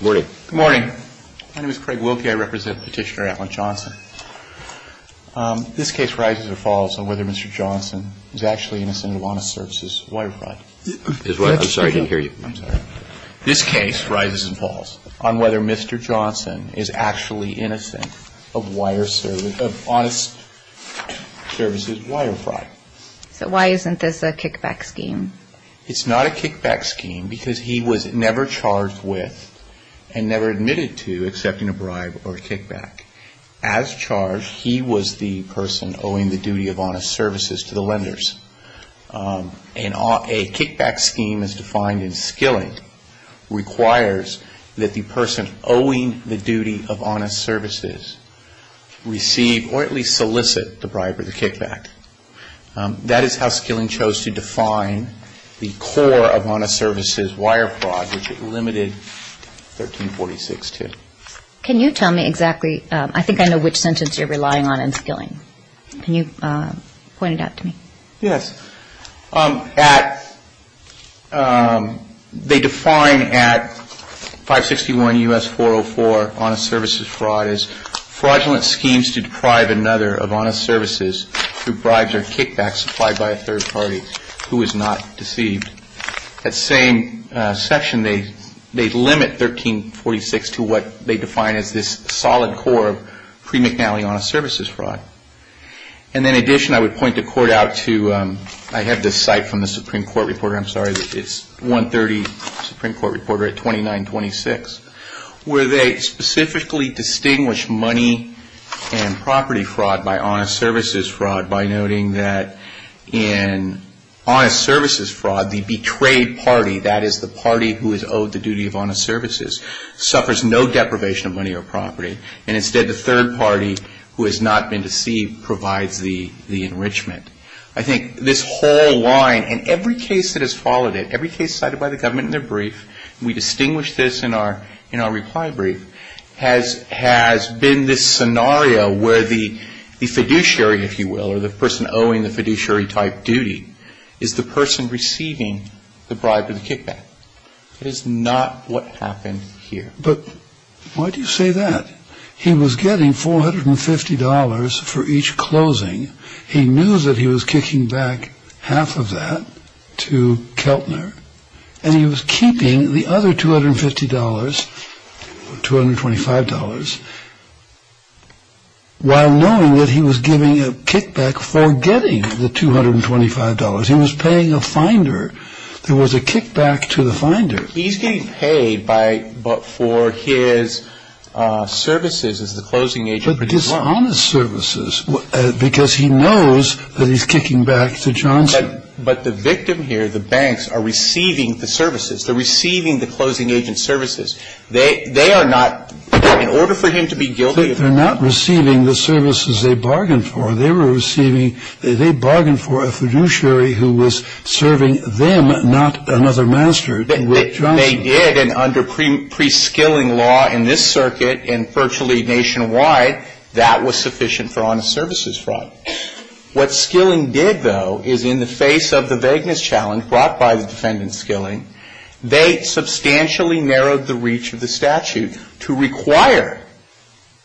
Good morning. My name is Craig Wilkie. I represent Petitioner Allen Johnson. This case rises and falls on whether Mr. Johnson is actually innocent of honest services wire fraud. I'm sorry, I didn't hear you. This case rises and falls on whether Mr. Johnson is actually innocent of honest services wire fraud. So why isn't this a kickback scheme? It's not a kickback scheme because he was never charged with and never admitted to accepting a bribe or a kickback. As charged, he was the person owing the duty of honest services to the lenders. A kickback scheme as defined in Skilling requires that the person owing the duty of honest services receive or at least solicit the bribe or the kickback. That is how Skilling chose to define the core of honest services wire fraud, which it limited 1346 to. Can you tell me exactly, I think I know which sentence you're relying on in Skilling. Can you point it out to me? Yes. They define at 561 U.S. 404, honest services fraud as fraudulent schemes to deprive another of honest services through bribes or kickbacks supplied by a third party who is not deceived. That same section, they limit 1346 to what they define as this solid core of pre-McNally honest services fraud. And in addition, I would point the court out to, I have this site from the Supreme Court reporter, I'm sorry, it's 130 Supreme Court reporter at 2926, where they specifically distinguish money and property fraud by honest services fraud by noting that in honest services fraud, the betrayed party, that is the party who is owed the duty of honest services, suffers no deprivation of money or property. And instead the third party who has not been deceived provides the enrichment. I think this whole line, and every case that has followed it, every case cited by the government in their brief, we distinguish this in our reply brief, has been this scenario where the fiduciary, if you will, or the person owing the fiduciary type duty is the person receiving the bribe or the kickback. That is not what happened here. But why do you say that? He was getting $450 for each closing. He knew that he was kicking back half of that to Keltner. And he was keeping the other $250, $225, while knowing that he was giving a kickback for getting the $225. He was paying a finder. There was a kickback to the finder. He's getting paid for his services as the closing agent. But it's honest services because he knows that he's kicking back to Johnson. But the victim here, the banks, are receiving the services. They're receiving the closing agent's services. They are not, in order for him to be guilty of fraud. They're not receiving the services they bargained for. They were receiving, they bargained for a fiduciary who was serving them, not another master, and they were not receiving the services they bargained for. And they did. And under preskilling law in this circuit and virtually nationwide, that was sufficient for honest services fraud. What skilling did, though, is in the face of the vagueness challenge brought by the defendant's skilling, they substantially narrowed the reach of the statute to require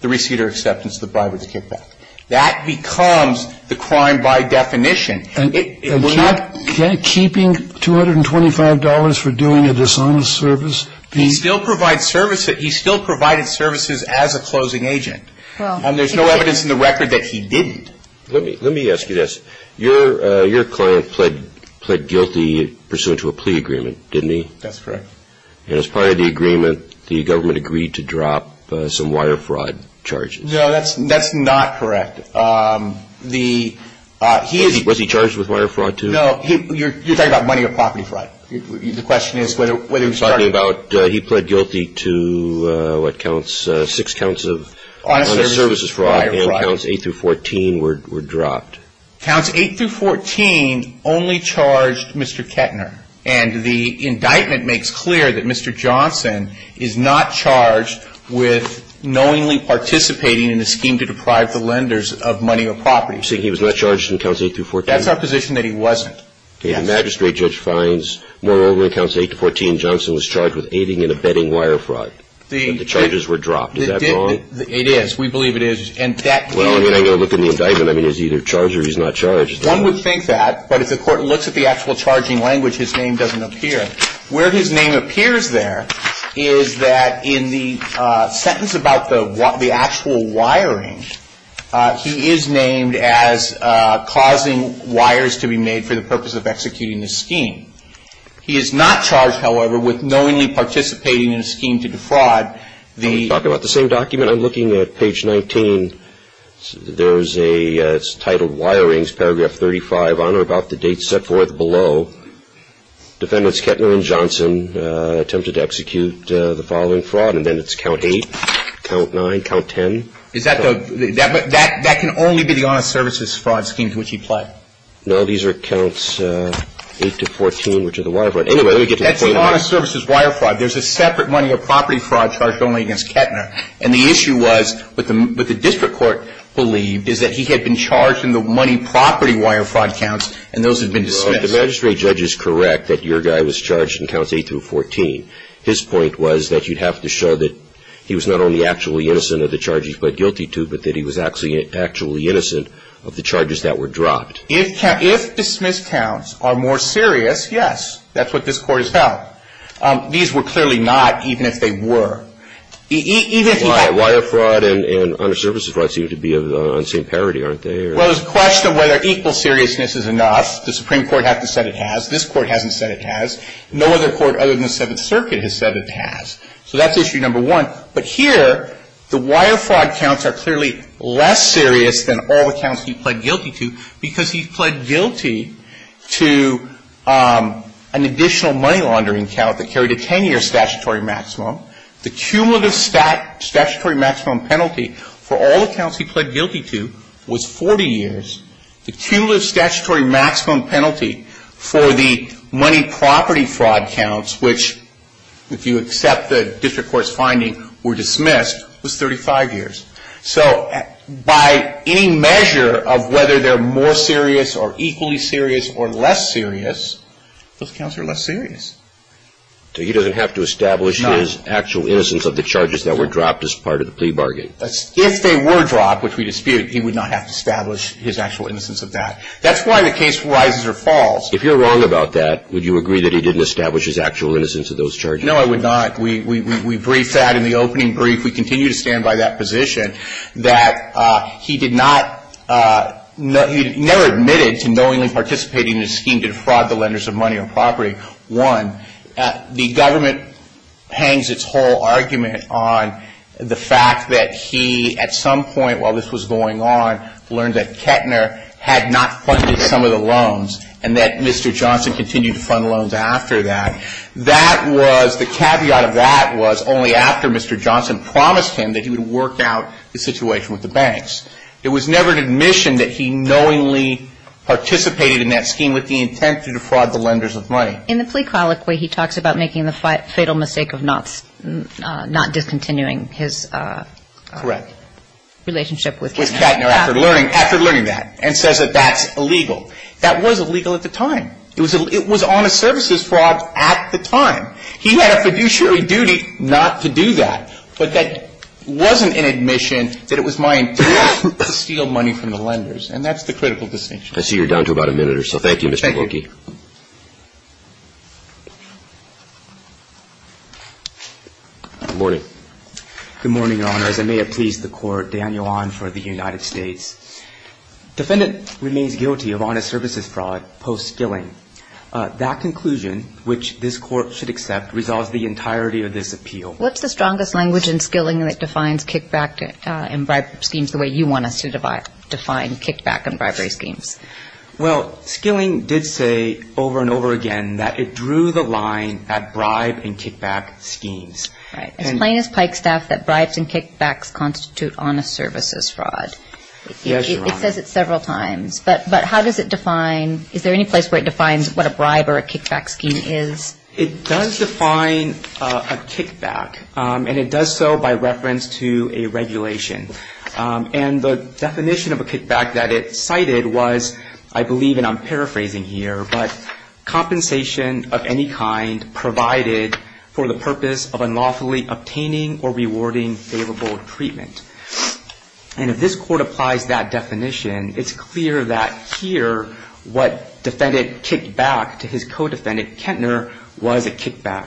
the receiver acceptance of the bribe or the kickback. That becomes the crime by definition. And kept keeping $225 for doing a dishonest service? He still provided services as a closing agent. And there's no evidence in the record that he didn't. Let me ask you this. Your client pled guilty pursuant to a plea agreement, didn't he? That's correct. And as part of the agreement, the government agreed to drop some wire fraud charges. No, that's not correct. Was he charged with wire fraud, too? No, you're talking about money or property fraud. The question is whether he was charged. You're talking about he pled guilty to what counts, six counts of honest services fraud. And counts 8 through 14 were dropped. Counts 8 through 14 only charged Mr. Kettner. And the indictment makes clear that Mr. Johnson is not charged with knowingly participating in the scheme to deprive the lenders of money or property. You're saying he was not charged in counts 8 through 14? That's our position, that he wasn't. Okay. The magistrate judge finds, moreover, in counts 8 to 14, Johnson was charged with aiding and abetting wire fraud. The charges were dropped. Is that wrong? It is. We believe it is. Well, I mean, I'm going to look in the indictment. I mean, he's either charged or he's not charged. One would think that. But if the court looks at the actual charging language, his name doesn't appear. Where his name appears there is that in the sentence about the actual wiring, he is named as causing wires to be made for the purpose of executing the scheme. He is not charged, however, with knowingly participating in a scheme to defraud the ---- When you talk about the same document, I'm looking at page 19. There's a ---- it's titled Wirings, paragraph 35, on or about the date set forth below. Defendants Kettner and Johnson attempted to execute the following fraud. And then it's count 8, count 9, count 10. Is that the ---- that can only be the honest services fraud scheme to which he pled? No. These are counts 8 to 14, which are the wire fraud. Anyway, let me get to the point. That's the honest services wire fraud. There's a separate money of property fraud charged only against Kettner. And the issue was what the district court believed is that he had been charged in the money property wire fraud counts, and those had been dismissed. Well, if the magistrate judge is correct that your guy was charged in counts 8 through 14, his point was that you'd have to show that he was not only actually innocent of the charges he pled guilty to, but that he was actually innocent of the charges that were dropped. If dismissed counts are more serious, yes, that's what this Court has held. These were clearly not, even if they were. Why? Wire fraud and honest services fraud seem to be of the same parity, aren't they? Well, it's a question of whether equal seriousness is enough. The Supreme Court hasn't said it has. This Court hasn't said it has. No other court other than the Seventh Circuit has said it has. So that's issue number one. But here, the wire fraud counts are clearly less serious than all the counts he pled guilty to because he pled guilty to an additional money laundering count that carried a 10-year statutory maximum. The cumulative statutory maximum penalty for all the counts he pled guilty to was 40 years. The cumulative statutory maximum penalty for the money property fraud counts, which if you accept the district court's finding were dismissed, was 35 years. So by any measure of whether they're more serious or equally serious or less serious, those counts are less serious. So he doesn't have to establish his actual innocence of the charges that were dropped as part of the plea bargain? If they were dropped, which we dispute, he would not have to establish his actual innocence of that. That's why the case rises or falls. If you're wrong about that, would you agree that he didn't establish his actual innocence of those charges? No, I would not. We briefed that in the opening brief. We continue to stand by that position that he did not ñ he never admitted to knowingly participating in a scheme to defraud the lenders of money or property. One, the government hangs its whole argument on the fact that he at some point while this was going on learned that Kettner had not funded some of the loans and that Mr. Johnson continued to fund loans after that. That was ñ the caveat of that was only after Mr. Johnson promised him that he would work out the situation with the banks. It was never an admission that he knowingly participated in that scheme with the intent to defraud the lenders of money. In the plea colloquy, he talks about making the fatal mistake of not discontinuing his ñ Correct. ñ relationship with Kettner after learning that and says that that's illegal. That was illegal at the time. It was honest services fraud at the time. He had a fiduciary duty not to do that. But that wasn't an admission that it was my intent to steal money from the lenders. And that's the critical distinction. I see you're down to about a minute or so. Thank you, Mr. Corky. Thank you. Good morning. Good morning, Your Honors. I may have pleased the Court. Daniel Ahn for the United States. Defendant remains guilty of honest services fraud post-skilling. That conclusion, which this Court should accept, resolves the entirety of this appeal. What's the strongest language in skilling that defines kickback and bribe schemes the way you want us to define kickback and bribery schemes? Well, skilling did say over and over again that it drew the line at bribe and kickback schemes. Right. As plain as Pike Staff, that bribes and kickbacks constitute honest services fraud. Yes, Your Honor. It says it several times. But how does it define ñ is there any place where it defines what a bribe or a kickback scheme is? It does define a kickback, and it does so by reference to a regulation. And the definition of a kickback that it cited was, I believe, and I'm paraphrasing here, but compensation of any kind provided for the purpose of unlawfully obtaining or rewarding favorable treatment. And if this Court applies that definition, it's clear that here what defendant kicked back to his co-defendant, Kentner, was a kickback.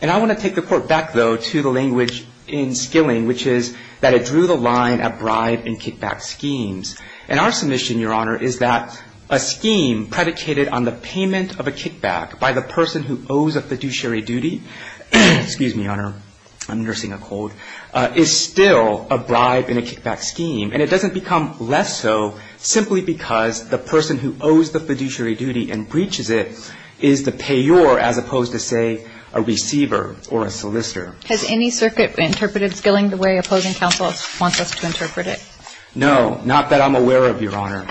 And I want to take the Court back, though, to the language in skilling, which is that it drew the line at bribe and kickback schemes. And our submission, Your Honor, is that a scheme predicated on the payment of a kickback by the person who owes a fiduciary duty ñ a bribe in a kickback scheme. And it doesn't become less so simply because the person who owes the fiduciary duty and breaches it is the payor, as opposed to, say, a receiver or a solicitor. Has any circuit interpreted skilling the way opposing counsel wants us to interpret it? No, not that I'm aware of, Your Honor.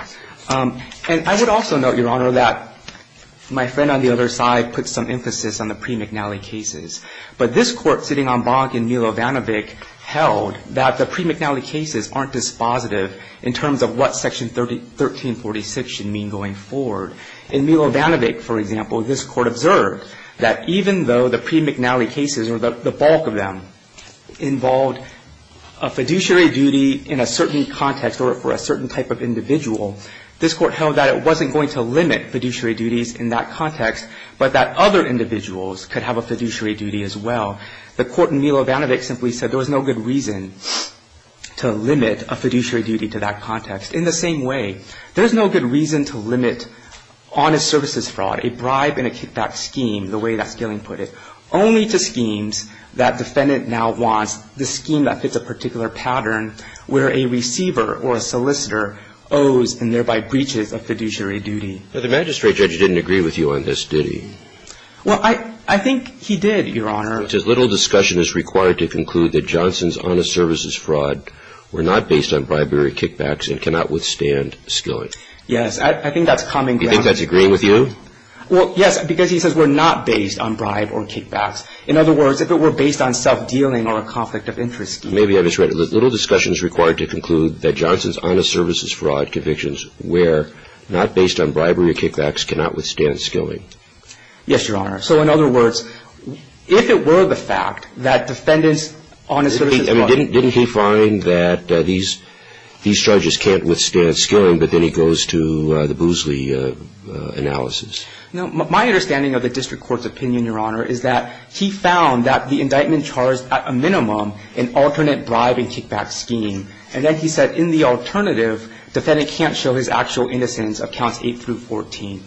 And I would also note, Your Honor, that my friend on the other side put some emphasis on the pre-McNally cases. But this Court, sitting en banc in Milo Vanovic, held that the pre-McNally cases aren't dispositive in terms of what Section 1346 should mean going forward. In Milo Vanovic, for example, this Court observed that even though the pre-McNally cases or the bulk of them involved a fiduciary duty in a certain context or for a certain type of individual, this Court held that it wasn't going to limit fiduciary duties in that context, but that other individuals could have a fiduciary duty as well. The Court in Milo Vanovic simply said there was no good reason to limit a fiduciary duty to that context. In the same way, there is no good reason to limit honest services fraud, a bribe and a kickback scheme, the way that skilling put it, only to schemes that defendant now wants the scheme that fits a particular pattern where a receiver or a solicitor owes and thereby breaches a fiduciary duty. Now, the magistrate judge didn't agree with you on this, did he? Well, I think he did, Your Honor. He says little discussion is required to conclude that Johnson's honest services fraud were not based on bribery or kickbacks and cannot withstand skilling. Yes. I think that's common ground. Do you think that's agreeing with you? Well, yes, because he says we're not based on bribe or kickbacks. In other words, if it were based on self-dealing or a conflict of interest scheme. Maybe I misread it. Little discussion is required to conclude that Johnson's honest services fraud convictions were not based on bribery or kickbacks, cannot withstand skilling. Yes, Your Honor. So in other words, if it were the fact that defendants' honest services fraud. Didn't he find that these charges can't withstand skilling, but then he goes to the Boozley analysis. No. My understanding of the district court's opinion, Your Honor, is that he found that the indictment charged at a minimum an alternate bribe and kickback scheme. And then he said in the alternative, defendant can't show his actual innocence of counts eight through 14.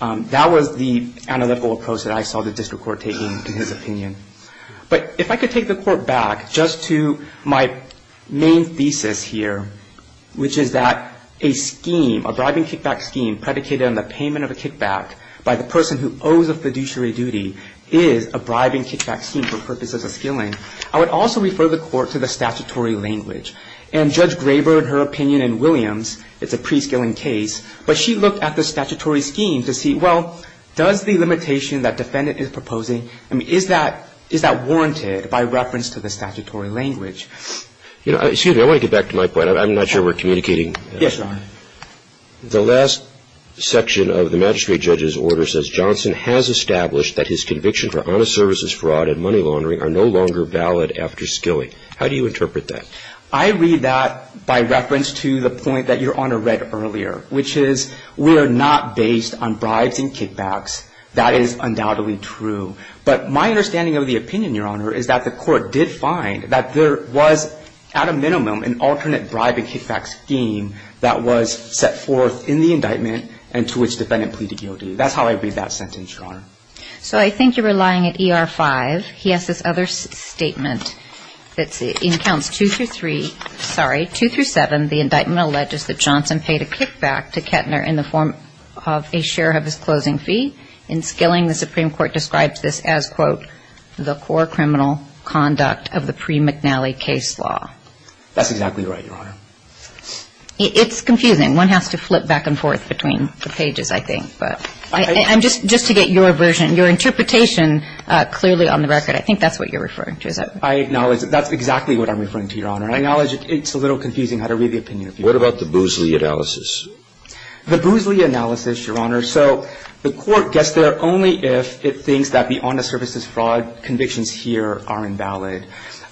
That was the analytical approach that I saw the district court taking in his opinion. But if I could take the court back just to my main thesis here, which is that a scheme, a bribe and kickback scheme predicated on the payment of a kickback by the person who owes a fiduciary duty is a bribe and kickback scheme for purposes of skilling. I would also refer the court to the statutory language. And Judge Graber, in her opinion in Williams, it's a pre-skilling case. But she looked at the statutory scheme to see, well, does the limitation that defendant is proposing, I mean, is that warranted by reference to the statutory language? Excuse me. I want to get back to my point. I'm not sure we're communicating. Yes, Your Honor. The last section of the magistrate judge's order says, I read that by reference to the point that Your Honor read earlier, which is we are not based on bribes and kickbacks. That is undoubtedly true. But my understanding of the opinion, Your Honor, is that the court did find that there was at a minimum an alternate bribe and kickback scheme that was set forth in the indictment and to which defendant pleaded guilty. That's how I read that. So I think you're relying at ER-5. He has this other statement that's in counts 2 through 3, sorry, 2 through 7, the indictment alleges that Johnson paid a kickback to Kettner in the form of a share of his closing fee. In skilling, the Supreme Court describes this as, quote, the core criminal conduct of the pre-McNally case law. That's exactly right, Your Honor. It's confusing. One has to flip back and forth between the pages, I think. But I'm just to get your version, your interpretation clearly on the record. I think that's what you're referring to. I acknowledge that's exactly what I'm referring to, Your Honor. I acknowledge it's a little confusing how to read the opinion. What about the Boozley analysis? The Boozley analysis, Your Honor, so the court gets there only if it thinks that the honest services fraud convictions here are invalid.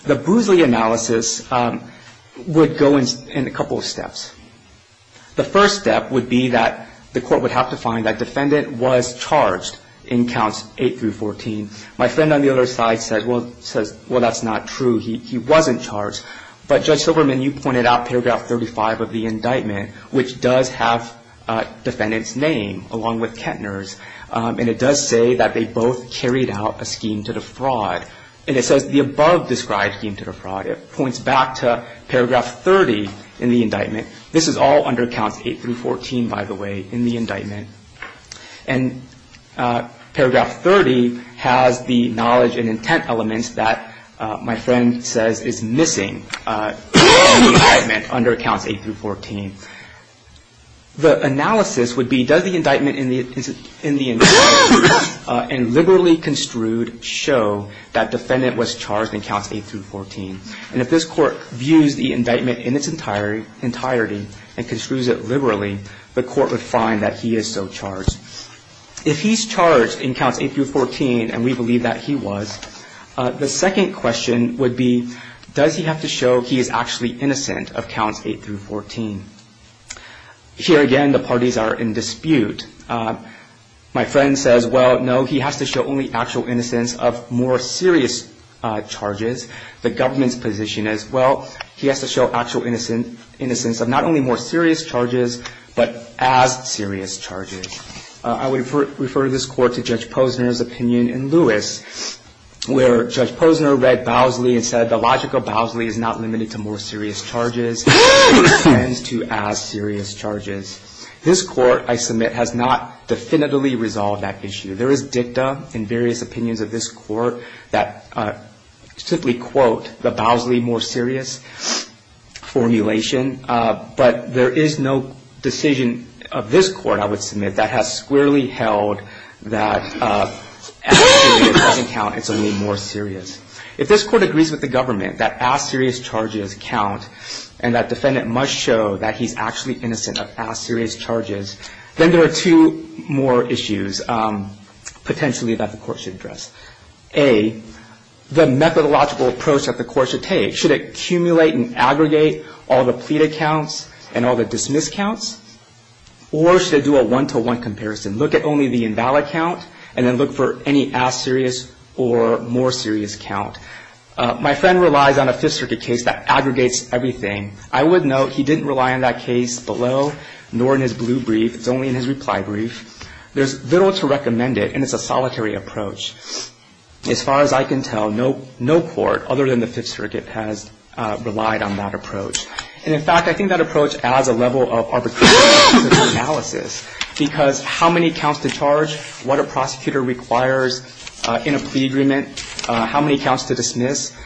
The Boozley analysis would go in a couple of steps. The first step would be that the court would have to find that defendant was charged in counts 8 through 14. My friend on the other side says, well, that's not true. He wasn't charged. But, Judge Silverman, you pointed out paragraph 35 of the indictment, which does have defendant's name along with Kettner's. And it does say that they both carried out a scheme to defraud. And it says the above described scheme to defraud. It points back to paragraph 30 in the indictment. This is all under counts 8 through 14, by the way, in the indictment. And paragraph 30 has the knowledge and intent elements that my friend says is missing in the indictment under counts 8 through 14. The analysis would be does the indictment in the indictment and liberally construed show that defendant was charged in counts 8 through 14. And if this court views the indictment in its entirety and construes it liberally, the court would find that he is so charged. If he's charged in counts 8 through 14, and we believe that he was, the second question would be does he have to show he is actually innocent of counts 8 through 14. Here again, the parties are in dispute. My friend says, well, no, he has to show only actual innocence of more serious charges. The government's position is, well, he has to show actual innocence of not only more serious charges, but as serious charges. I would refer this Court to Judge Posner's opinion in Lewis, where Judge Posner read Bowsley and said the logic of Bowsley is not limited to more serious charges. It extends to as serious charges. This Court, I submit, has not definitively resolved that issue. There is dicta in various opinions of this Court that simply quote the Bowsley more serious formulation. But there is no decision of this Court, I would submit, that has squarely held that as serious doesn't count, it's only more serious. If this Court agrees with the government that as serious charges count and that defendant must show that he's actually innocent of as serious charges, then there are two more issues potentially that the Court should address. A, the methodological approach that the Court should take. Should it accumulate and aggregate all the pleaded counts and all the dismissed counts? Or should it do a one-to-one comparison, look at only the invalid count and then look for any as serious or more serious count? My friend relies on a Fifth Circuit case that aggregates everything. I would note he didn't rely on that case below, nor in his blue brief. It's only in his reply brief. There's little to recommend it, and it's a solitary approach. As far as I can tell, no court other than the Fifth Circuit has relied on that approach. And in fact, I think that approach adds a level of arbitrariness to the analysis because how many counts to charge, what a prosecutor requires in a plea agreement, how many counts to dismiss,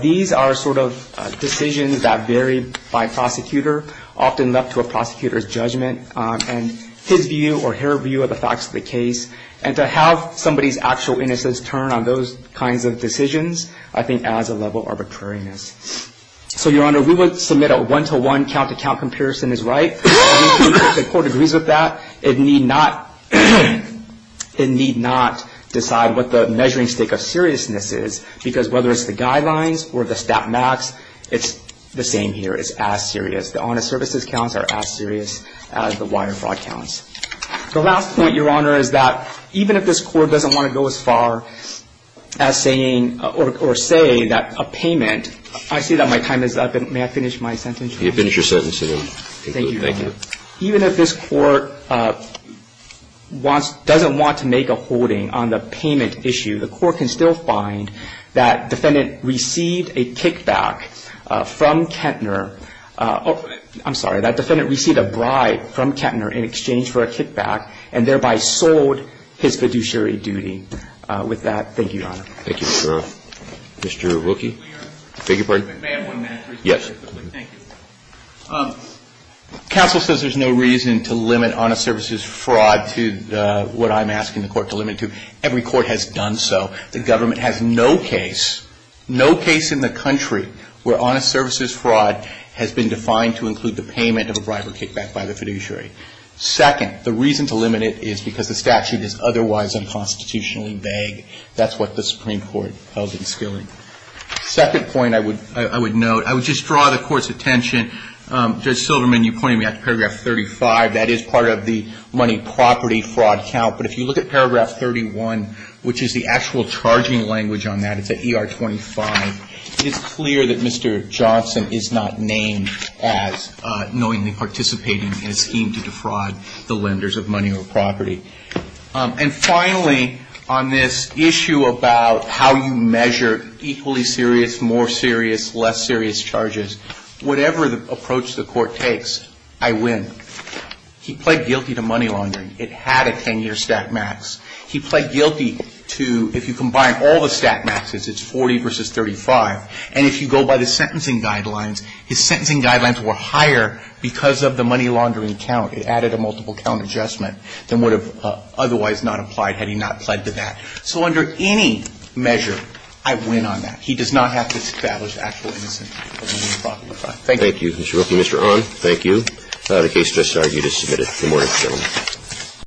these are sort of decisions that vary by prosecutor, often left to a prosecutor's judgment and his view or her view of the facts of the case. And to have somebody's actual innocence turn on those kinds of decisions, I think adds a level of arbitrariness. So, Your Honor, we would submit a one-to-one count-to-count comparison is right. I think the Court agrees with that. It needs not decide what the measuring stick of seriousness is because whether it's the guidelines or the stat max, it's the same here. It's as serious. The honest services counts are as serious as the wire fraud counts. The last point, Your Honor, is that even if this Court doesn't want to go as far as saying or say that a payment – I see that my time is up. May I finish my sentence? You may finish your sentence. Thank you, Your Honor. Even if this Court wants – doesn't want to make a holding on the payment issue, the Court can still find that defendant received a kickback from Kettner – I'm sorry, that defendant received a bribe from Kettner in exchange for a kickback and thereby sold his fiduciary duty. With that, thank you, Your Honor. Thank you, Your Honor. Mr. Rookie? May I have one minute? Yes. Counsel says there's no reason to limit honest services fraud to what I'm asking the Court to limit to. Every court has done so. The government has no case – no case in the country where honest services fraud has been defined to include the payment of a bribe or kickback by the fiduciary. Second, the reason to limit it is because the statute is otherwise unconstitutionally vague. That's what the Supreme Court held in Skilling. Second point I would note, I would just draw the Court's attention. Judge Silverman, you pointed me out to paragraph 35. That is part of the money property fraud count. But if you look at paragraph 31, which is the actual charging language on that, it's at ER 25, it's clear that Mr. Johnson is not named as knowingly participating in a scheme to defraud the lenders of money or property. And finally, on this issue about how you measure equally serious, more serious, less serious charges, whatever approach the Court takes, I win. He pled guilty to money laundering. It had a 10-year stack max. He pled guilty to – if you combine all the stack maxes, it's 40 versus 35. And if you go by the sentencing guidelines, his sentencing guidelines were higher because of the money laundering count. It added a multiple count adjustment than would have otherwise not applied had he not pled to that. So under any measure, I win on that. He does not have to establish actual innocence of money or property fraud. Thank you. Roberts. Thank you, Mr. Rookie. Mr. Ong, thank you. The case just argued is submitted. Good morning, gentlemen.